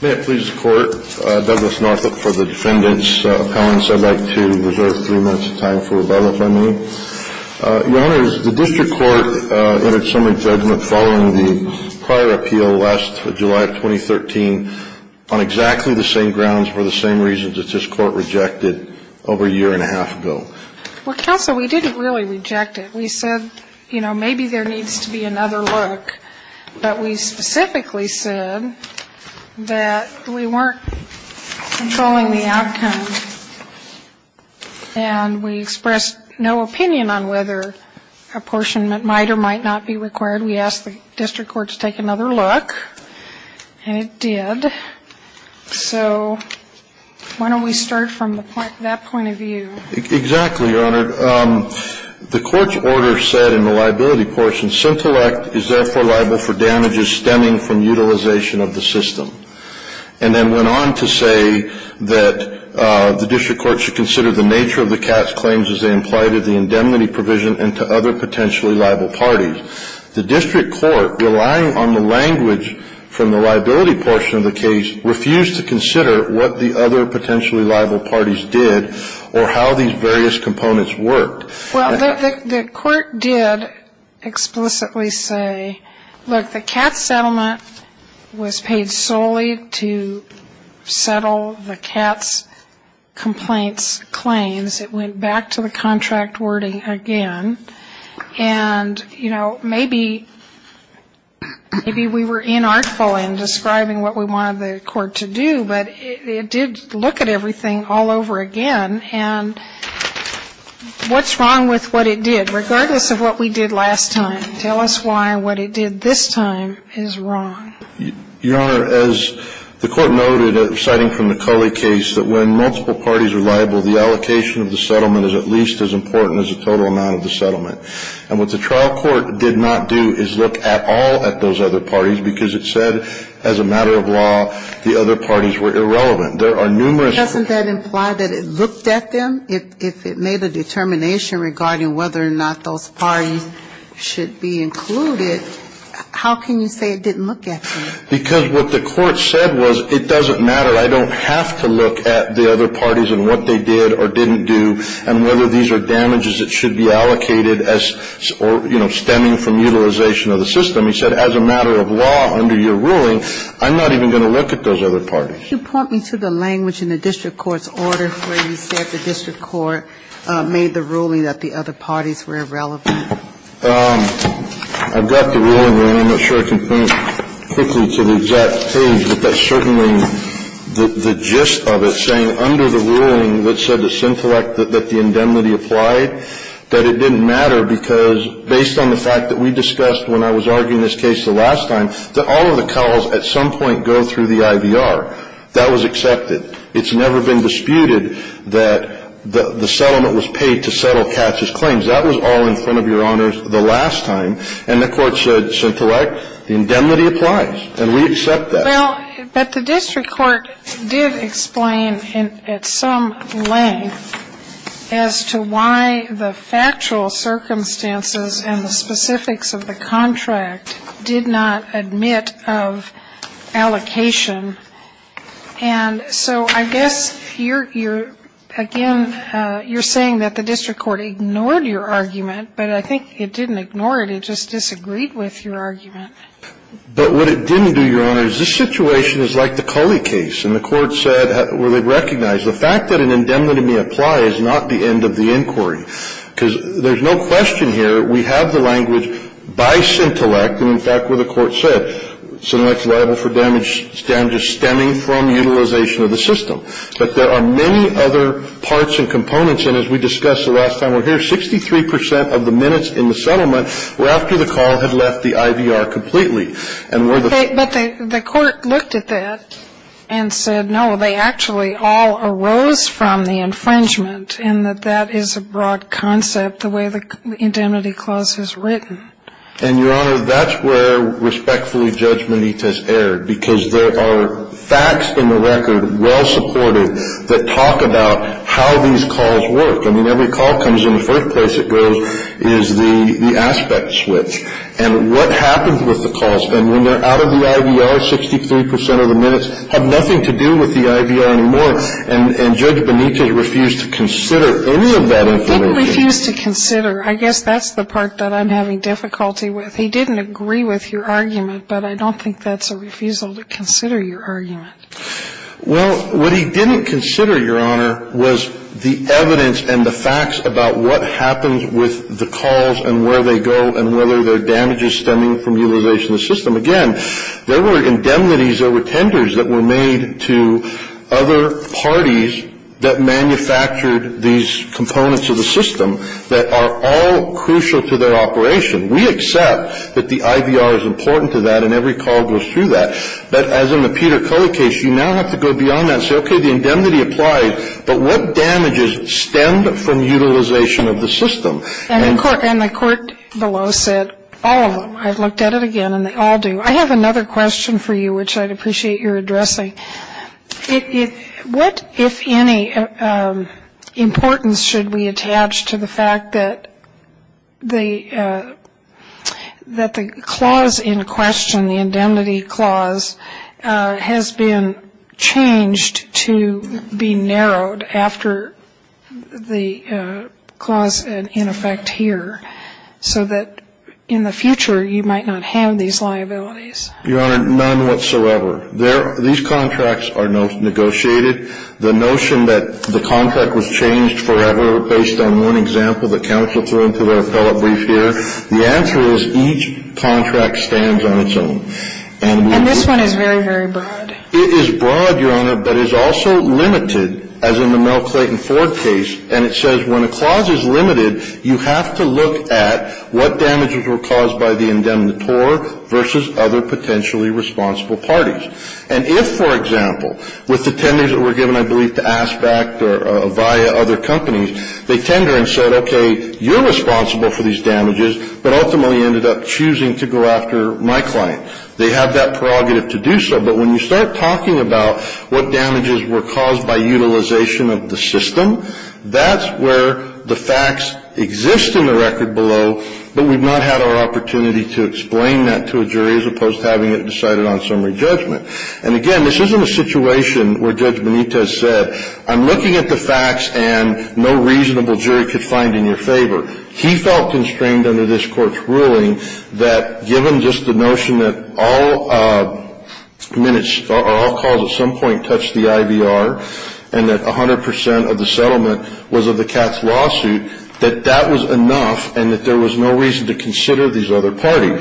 May it please the Court, Douglas Northup for the Defendant's Appellants. I'd like to reserve three minutes of time for rebuttal, if I may. Your Honors, the District Court entered summary judgment following the prior appeal last July of 2013 on exactly the same grounds for the same reasons that this Court rejected over a year and a half ago. Well, Counsel, we didn't really reject it. We said, you know, maybe there needs to be another look. But we specifically said that we weren't controlling the outcome and we expressed no opinion on whether apportionment might or might not be required. We asked the District Court to take another look, and it did. So why don't we start from that point of view? Exactly, Your Honor. The Court's order said in the liability portion, Syntellect is therefore liable for damages stemming from utilization of the system. And then went on to say that the District Court should consider the nature of the cast claims as they apply to the indemnity provision and to other potentially liable parties. The District Court, relying on the language from the liability portion of the case, refused to consider what the other potentially liable parties did or how these various components worked. Well, the Court did explicitly say, look, the CATS settlement was paid solely to settle the CATS complaints claims. It went back to the contract wording again. And, you know, maybe we were inartful in describing what we wanted the Court to do, but it did look at everything all over again. And what's wrong with what it did, regardless of what we did last time? Tell us why what it did this time is wrong. Your Honor, as the Court noted, citing from the Culley case, that when multiple parties are liable, the allocation of the settlement is at least as important as the total amount of the settlement. And what the trial court did not do is look at all of those other parties because it said, as a matter of law, the other parties were irrelevant. There are numerous... Doesn't that imply that it looked at them? If it made a determination regarding whether or not those parties should be included, how can you say it didn't look at them? Because what the Court said was, it doesn't matter. I don't have to look at the other parties and what they did or didn't do and whether these are damages that should be allocated as or, you know, stemming from utilization of the system. He said, as a matter of law, under your ruling, I'm not even going to look at those other parties. You point me to the language in the district court's order where you said the district court made the ruling that the other parties were irrelevant. I've got the ruling there, and I'm not sure I can point quickly to the exact page, but that's certainly the gist of it, saying under the ruling that said that the indemnity applied, that it didn't matter because, based on the fact that we discussed when I was arguing this case the last time, that all of the calls at some point go through the IVR. That was accepted. It's never been disputed that the settlement was paid to settle Katz's claims. That was all in front of Your Honors the last time. And the Court should select the indemnity applies, and we accept that. Well, but the district court did explain at some length as to why the factual circumstances and the specifics of the contract did not admit of allocation. And so I guess you're, again, you're saying that the district court ignored your argument, but I think it didn't ignore it. It just disagreed with your argument. But what it didn't do, Your Honors, this situation is like the Culley case. And the Court said, well, they recognized the fact that an indemnity may apply is not the end of the inquiry. Because there's no question here, we have the language by Sintellect, and in fact, what the Court said. Sintellect is liable for damages stemming from utilization of the system. But there are many other parts and components. And as we discussed the last time we're here, 63 percent of the minutes in the settlement were after the call had left the IVR completely. But the Court looked at that and said, no, they actually all arose from the infringement and that that is a broad concept, the way the indemnity clause is written. And, Your Honor, that's where, respectfully, Judge Benitez erred. Because there are facts in the record, well supported, that talk about how these calls work. I mean, every call comes in, the first place it goes is the aspect switch. And what happens with the calls, then, when they're out of the IVR, 63 percent of the minutes have nothing to do with the IVR anymore. And Judge Benitez refused to consider any of that information. Sotomayor, I guess that's the part that I'm having difficulty with. He didn't agree with your argument, but I don't think that's a refusal to consider your argument. Well, what he didn't consider, Your Honor, was the evidence and the facts about what happens with the calls and where they go and whether they're damages stemming from utilization of the system. Again, there were indemnities, there were tenders that were made to other parties that manufactured these components of the system that are all crucial to their operation. We accept that the IVR is important to that and every call goes through that. But as in the Peter Coley case, you now have to go beyond that and say, okay, the indemnity applies, but what damages stem from utilization of the system? And the court below said all of them. I've looked at it again, and they all do. I have another question for you, which I'd appreciate your addressing. What, if any, importance should we attach to the fact that the clause in question, the indemnity clause, has been changed to be narrowed after the clause in effect here so that in the future you might not have these liabilities? Your Honor, none whatsoever. These contracts are negotiated. The notion that the contract was changed forever based on one example that counsel threw into their appellate brief here, the answer is each contract stands on its own. And this one is very, very broad. It is broad, Your Honor, but it's also limited, as in the Mel Clayton Ford case. And it says when a clause is limited, you have to look at what damages were caused by the indemnitor versus other potentially responsible parties. And if, for example, with the tenders that were given, I believe, to Aspect or Viya, other companies, they tender and said, okay, you're responsible for these damages, but ultimately ended up choosing to go after my client. They have that prerogative to do so, but when you start talking about what damages were caused by utilization of the system, that's where the facts exist in the record below, but we've not had our opportunity to explain that to a jury as opposed to having it decided on summary judgment. And again, this isn't a situation where Judge Benitez said, I'm looking at the facts and no reasonable jury could find in your favor. He felt constrained under this Court's ruling that given just the notion that all minutes or all calls at some point touched the IVR and that 100 percent of the settlement was of the CATS lawsuit, that that was enough and that there was no reason to consider these other parties.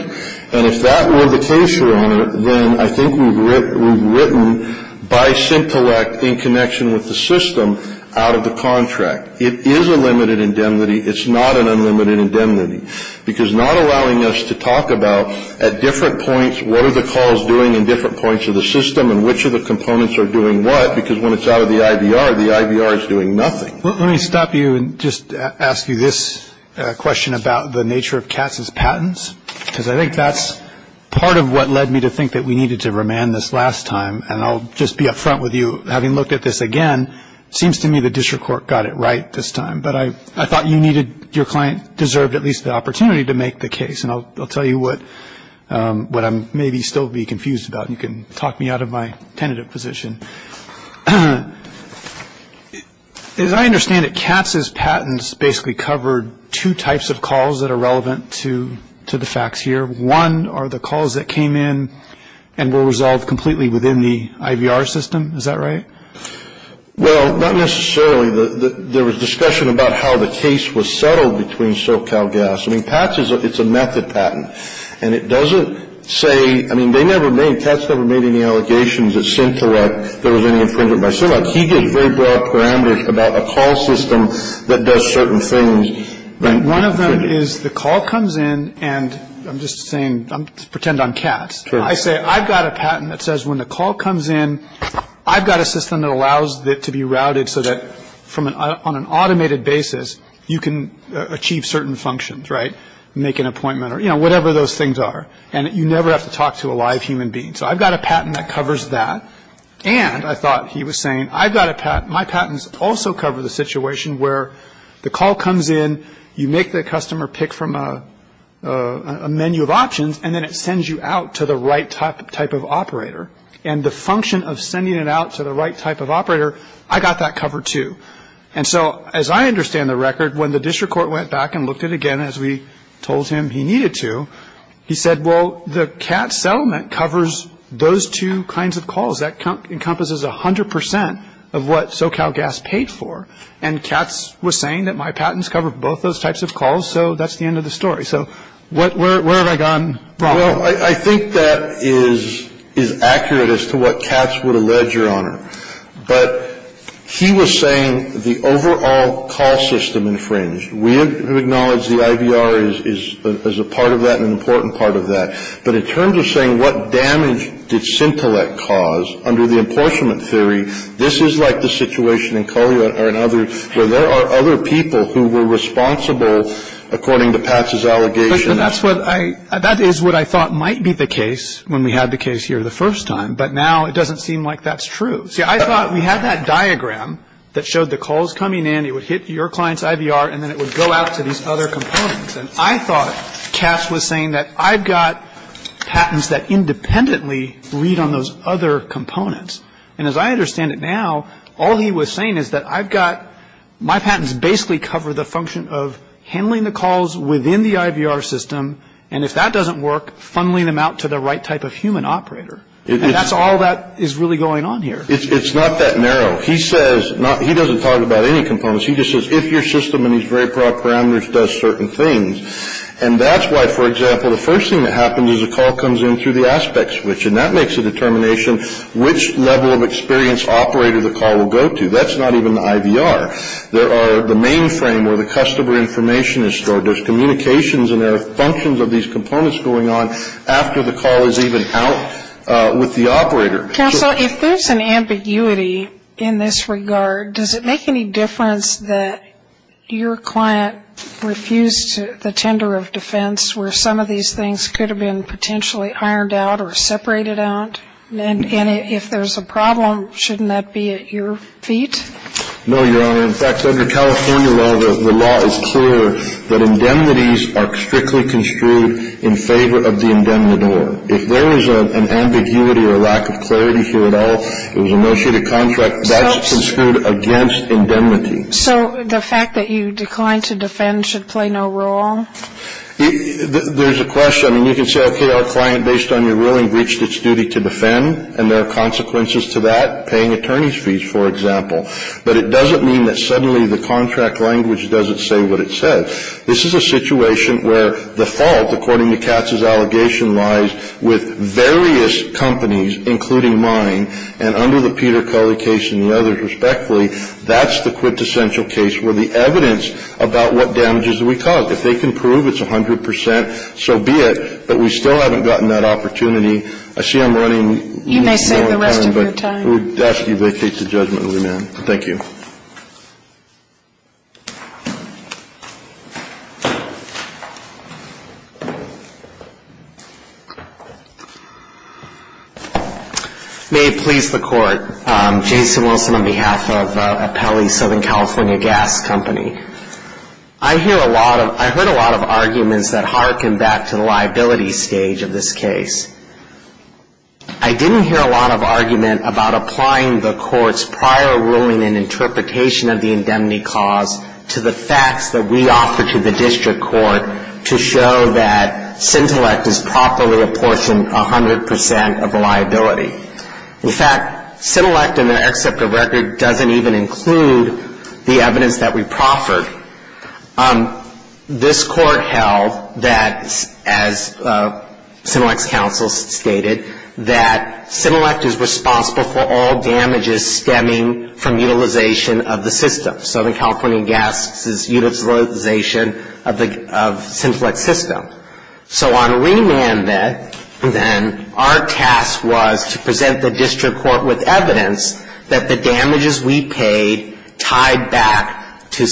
And if that were the case, Your Honor, then I think we've written, by simple act, in connection with the system out of the contract. It is a limited indemnity. It's not an unlimited indemnity, because not allowing us to talk about at different points what are the calls doing in different points of the system and which of the Let me stop you and just ask you this question about the nature of CATS's patents, because I think that's part of what led me to think that we needed to remand this last time. And I'll just be up front with you. Having looked at this again, it seems to me the district court got it right this time, but I thought you needed, your client deserved at least the opportunity to make the case. And I'll tell you what I may still be confused about. You can talk me out of my tentative position. As I understand it, CATS's patents basically covered two types of calls that are relevant to the facts here. One are the calls that came in and were resolved completely within the IVR system. Is that right? Well, not necessarily. There was discussion about how the case was settled between SoCalGas. I mean, CATS is a method patent. And it doesn't say, I mean, they never made, CATS never made any allegations. There was any infringement by SoCalGas. He gave very broad parameters about a call system that does certain things. One of them is the call comes in, and I'm just saying, pretend I'm CATS. I say, I've got a patent that says when the call comes in, I've got a system that allows it to be routed so that on an automated basis, you can achieve certain functions, right, make an appointment or, you know, whatever those things are. And you never have to talk to a live human being. So I've got a patent that covers that. And I thought he was saying, I've got a patent, my patents also cover the situation where the call comes in, you make the customer pick from a menu of options, and then it sends you out to the right type of operator. And the function of sending it out to the right type of operator, I got that covered too. And so as I understand the record, when the district court went back and looked at it again as we told him he needed to, he said, well, the CATS settlement covers those two kinds of calls. That encompasses 100% of what SoCal Gas paid for. And CATS was saying that my patents cover both those types of calls, so that's the end of the story. So where have I gone wrong? Well, I think that is accurate as to what CATS would allege, Your Honor. But he was saying the overall call system infringed. We have acknowledged the IVR is a part of that and an important part of that. But in terms of saying what damage did Sintelec cause under the apportionment theory, this is like the situation in Collier or in others where there are other people who were responsible according to Patz's allegations. But that's what I – that is what I thought might be the case when we had the case here the first time. But now it doesn't seem like that's true. See, I thought we had that diagram that showed the calls coming in, it would hit your client's IVR, and then it would go out to these other components. And I thought CATS was saying that I've got patents that independently read on those other components. And as I understand it now, all he was saying is that I've got – my patents basically cover the function of handling the calls within the IVR system, and if that doesn't work, funneling them out to the right type of human operator. And that's all that is really going on here. It's not that narrow. He says – he doesn't talk about any components. He just says if your system in these very broad parameters does certain things. And that's why, for example, the first thing that happens is a call comes in through the aspect switch, and that makes a determination which level of experience operator the call will go to. That's not even the IVR. There are the mainframe where the customer information is stored. There's communications and there are functions of these components going on after the call is even out with the operator. Counsel, if there's an ambiguity in this regard, does it make any difference that your client refused the tender of defense where some of these things could have been potentially ironed out or separated out? And if there's a problem, shouldn't that be at your feet? No, Your Honor. In fact, under California law, the law is clear that indemnities are strictly construed in favor of the indemnitor. If there is an ambiguity or lack of clarity here at all, it was a negotiated contract that's construed against indemnity. So the fact that you declined to defend should play no role? There's a question. I mean, you can say, okay, our client, based on your ruling, breached its duty to defend, and there are consequences to that, paying attorney's fees, for example. But it doesn't mean that suddenly the contract language doesn't say what it says. This is a situation where the fault, according to Katz's allegation, lies with various companies, including mine, and under the Peter Culley case and the others respectfully, that's the quintessential case where the evidence about what damages we caused, if they can prove it's 100 percent, so be it. But we still haven't gotten that opportunity. I see I'm running. You may save the rest of your time. We'll ask you to vacate the judgment, ma'am. Thank you. May it please the Court. Jason Wilson on behalf of Apelli Southern California Gas Company. I hear a lot of, I heard a lot of arguments that harken back to the liability stage of this case. I didn't hear a lot of argument about applying the Court's prior ruling and interpretation of the indemnity cause to the facts that we offered to the district court to show that Cintellect is properly apportioned 100 percent of the liability. In fact, Cintellect in their except of record doesn't even include the evidence that we proffered. This Court held that, as Cintellect's counsel stated, that Cintellect is responsible for all damages stemming from utilization of the system, Southern California Gas' utilization of Cintellect's system. So on remand then, our task was to present the district court with evidence that the damages we paid tied back to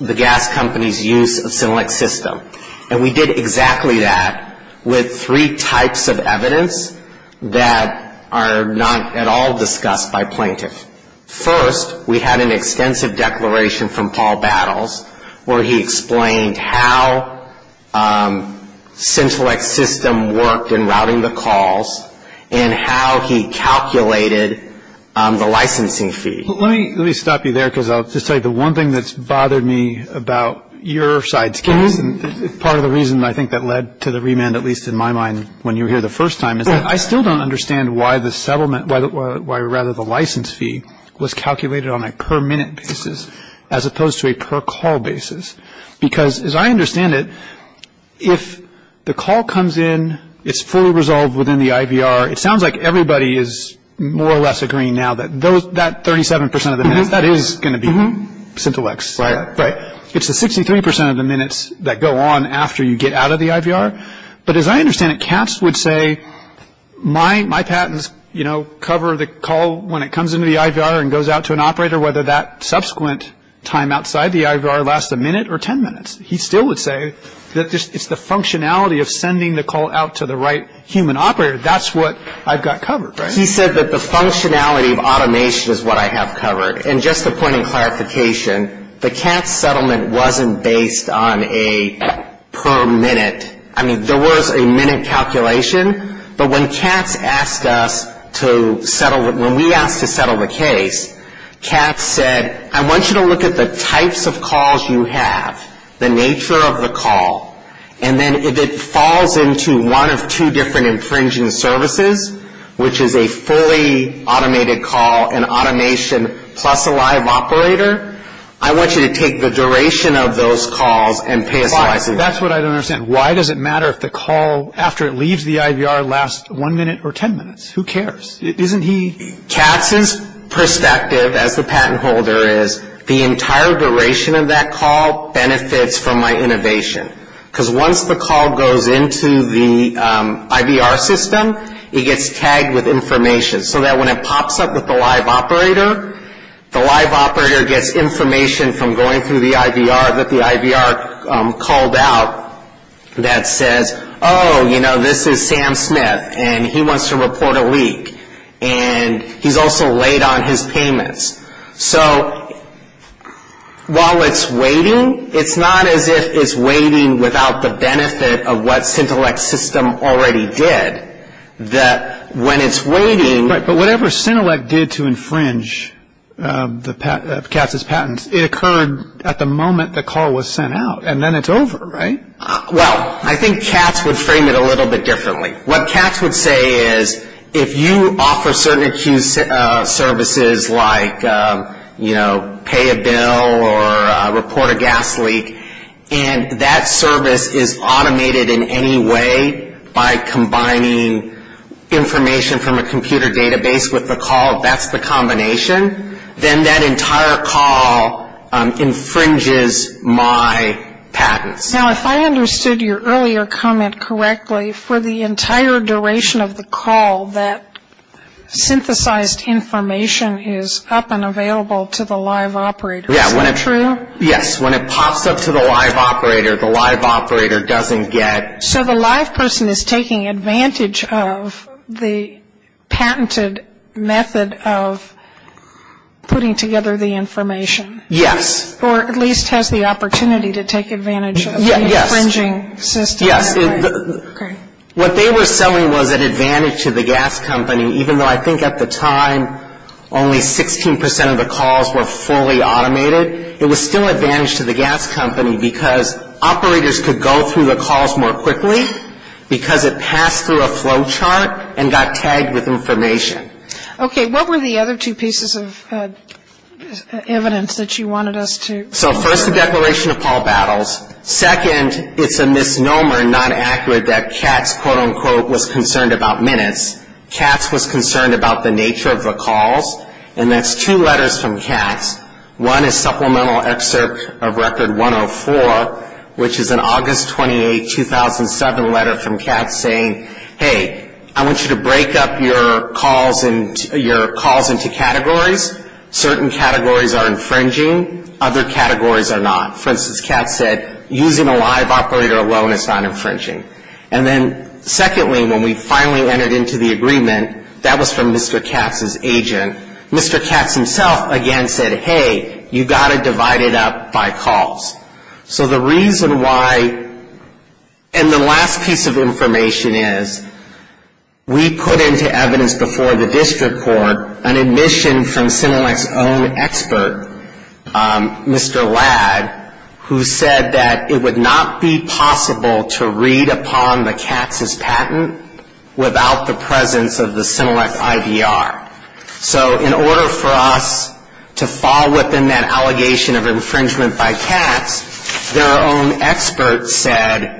the gas company's use of Cintellect's system. And we did exactly that with three types of evidence that are not at all discussed by plaintiffs. First, we had an extensive declaration from Paul Battles where he explained how Cintellect's system worked in routing the calls and how he calculated the licensing fee. But let me stop you there because I'll just say the one thing that's bothered me about your side's case and part of the reason I think that led to the remand at least in my mind when you were here the first time is that I still don't understand why the settlement, why rather the license fee was calculated on a per minute basis as opposed to a per call basis. Because as I understand it, if the call comes in, it's fully resolved within the minutes. So that 37% of the minutes, that is going to be Cintellect's, right? Right. It's the 63% of the minutes that go on after you get out of the IVR. But as I understand it, Katz would say, my patents, you know, cover the call when it comes into the IVR and goes out to an operator, whether that subsequent time outside the IVR lasts a minute or ten minutes. He still would say that it's the functionality of sending the call out to the right human operator. That's what I've got covered, right? He said that the functionality of automation is what I have covered. And just a point of clarification, the Katz settlement wasn't based on a per minute. I mean, there was a minute calculation. But when Katz asked us to settle, when we asked to settle the case, Katz said, I want you to look at the types of calls you have, the nature of the call, and then if it falls into one of two different infringing services, which is a fully automated call, an automation plus a live operator, I want you to take the duration of those calls and pay us a license. But that's what I don't understand. Why does it matter if the call, after it leaves the IVR, lasts one minute or ten minutes? Who cares? Isn't he? Katz's perspective as the patent holder is, the entire duration of that call benefits from my innovation. Because once the call goes into the IVR system, it gets tagged with information. So that when it pops up with the live operator, the live operator gets information from going through the IVR that the IVR called out that says, oh, you know, this is Sam Smith, and he wants to report a leak. And he's also late on his payments. So while it's waiting, it's not as if it's waiting without the benefit of what Centelec's system already did, that when it's waiting. Right, but whatever Centelec did to infringe Katz's patents, it occurred at the moment the call was sent out, and then it's over, right? Well, I think Katz would frame it a little bit differently. What Katz would say is, if you offer certain acute services like, you know, pay a bill or report a gas leak, and that service is automated in any way by combining information from a computer database with the call, that's the combination, then that entire call infringes my patents. Now, if I understood your earlier comment correctly, for the entire duration of the call that synthesized information is up and available to the live operator. Is that true? Yes. When it pops up to the live operator, the live operator doesn't get. So the live person is taking advantage of the patented method of putting together the information. Yes. Or at least has the opportunity to take advantage of the infringing system. Yes. Okay. What they were selling was an advantage to the gas company, even though I think at the time only 16 percent of the calls were fully automated. It was still an advantage to the gas company because operators could go through the calls more quickly because it passed through a flow chart and got tagged with information. Okay. What were the other two pieces of evidence that you wanted us to? So first, the declaration of Paul Battles. Second, it's a misnomer and not accurate that Katz, quote, unquote, was concerned about minutes. Katz was concerned about the nature of the calls, and that's two letters from Katz. One is supplemental excerpt of record 104, which is an August 28, 2007 letter from Katz saying, hey, I want you to break up your calls into categories. Certain categories are infringing. Other categories are not. For instance, Katz said, using a live operator alone is not infringing. And then secondly, when we finally entered into the agreement, that was from Mr. Katz's agent. Mr. Katz himself, again, said, hey, you've got to divide it up by calls. So the reason why, and the last piece of information is, we put into evidence before the district court an admission from CINELEC's own expert, Mr. Ladd, who said that it would not be possible to read upon the Katz's patent without the presence of the CINELEC IVR. So in order for us to fall within that allegation of infringement by Katz, their own expert said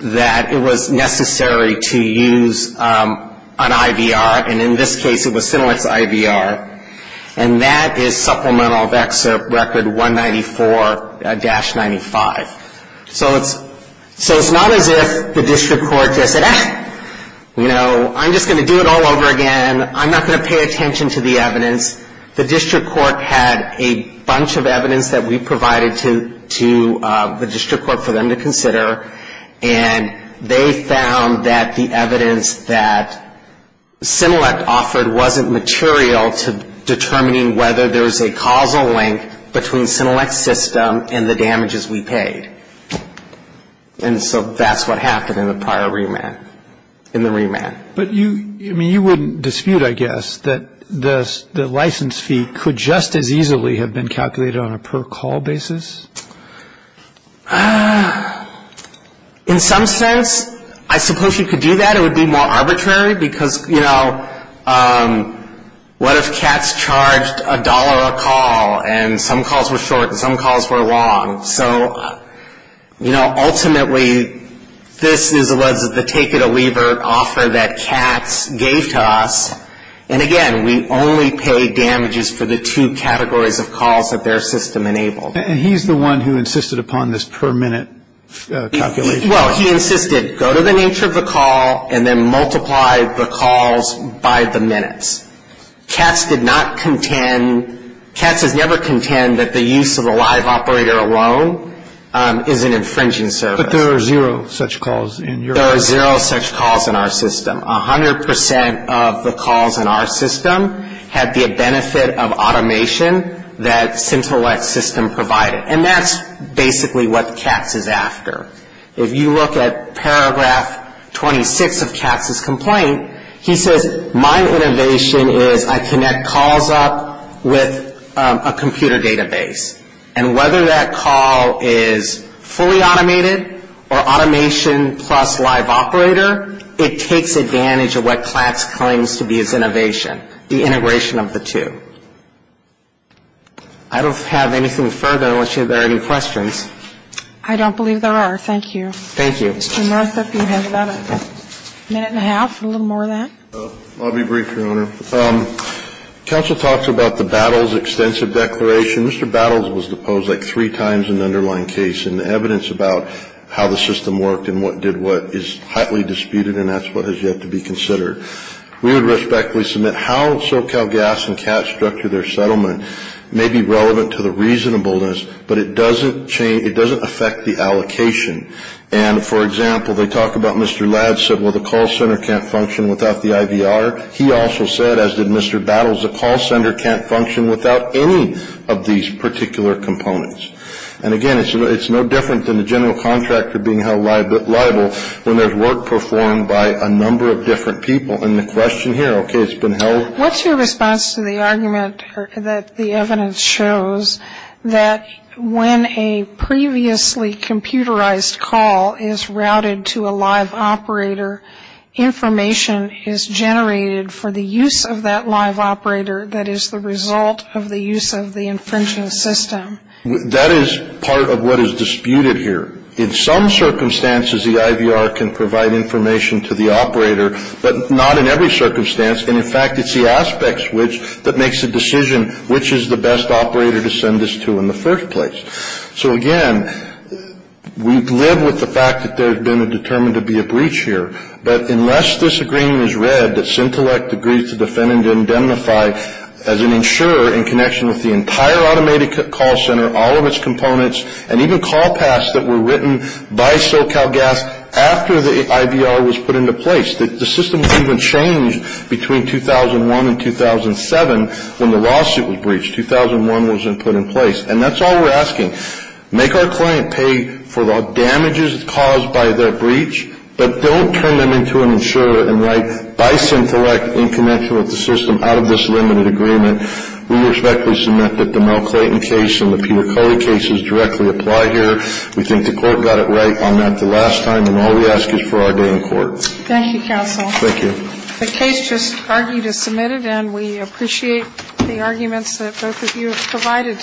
that it was necessary to use an IVR, and in this case it was CINELEC's IVR, and that is supplemental of excerpt record 194-95. So it's not as if the district court just said, ah, you know, I'm just going to do it all over again. I'm not going to pay attention to the evidence. The district court had a bunch of evidence that we provided to the district court for them to consider, and they found that the evidence that CINELEC offered wasn't material to determining whether there was a causal link between CINELEC's system and the damages we paid. And so that's what happened in the prior remand, in the remand. But you, I mean, you wouldn't dispute, I guess, that the license fee could just as easily have been calculated on a per-call basis? In some sense, I suppose you could do that. I think it would be more arbitrary because, you know, what if Katz charged a dollar a call, and some calls were short and some calls were long? So, you know, ultimately this was the take it or leave it offer that Katz gave to us, and again, we only paid damages for the two categories of calls that their system enabled. And he's the one who insisted upon this per-minute calculation? Well, he insisted, go to the nature of the call and then multiply the calls by the minutes. Katz did not contend, Katz has never contended that the use of a live operator alone is an infringing service. But there are zero such calls in your system? There are zero such calls in our system. A hundred percent of the calls in our system had the benefit of automation that CINELEC's system provided. And that's basically what Katz is after. If you look at paragraph 26 of Katz's complaint, he says, my innovation is I connect calls up with a computer database. And whether that call is fully automated or automation plus live operator, it takes advantage of what Katz claims to be his innovation, the integration of the two. I don't have anything further unless you have any questions. I don't believe there are. Thank you. Thank you. Mr. Murtha, if you have about a minute and a half, a little more of that. I'll be brief, Your Honor. Counsel talks about the Battles extensive declaration. Mr. Battles was deposed like three times in the underlying case. And the evidence about how the system worked and what did what is highly disputed, and that's what has yet to be considered. We would respectfully submit how SoCal Gas and Katz structure their settlement may be relevant to the reasonableness, but it doesn't affect the allocation. And, for example, they talk about Mr. Ladd said, well, the call center can't function without the IVR. He also said, as did Mr. Battles, the call center can't function without any of these particular components. And, again, it's no different than the general contractor being held liable when there's work performed by a number of different people. And the question here, okay, it's been held. What's your response to the argument that the evidence shows that when a previously computerized call is routed to a live operator, information is generated for the use of that live operator that is the result of the use of the infringing system? That is part of what is disputed here. In some circumstances, the IVR can provide information to the operator, but not in every circumstance. And, in fact, it's the aspect switch that makes the decision which is the best operator to send this to in the first place. So, again, we live with the fact that there's been a determined to be a breach here. But unless this agreement is read that Syntellect agrees to defend and indemnify as an insurer in connection with the entire automated call center, all of its components, and even call paths that were written by SoCal Gas after the IVR was put into place, the system wasn't even changed between 2001 and 2007 when the lawsuit was breached. 2001 wasn't put in place. And that's all we're asking. Make our client pay for the damages caused by their breach, but don't turn them into an insurer and write by Syntellect in connection with the system out of this limited agreement. We respectfully submit that the Mel Clayton case and the Peter Coley cases directly apply here. We think the Court got it right on that the last time, and all we ask is for our day in court. Thank you, counsel. Thank you. The case just argued as submitted, and we appreciate the arguments that both of you have provided.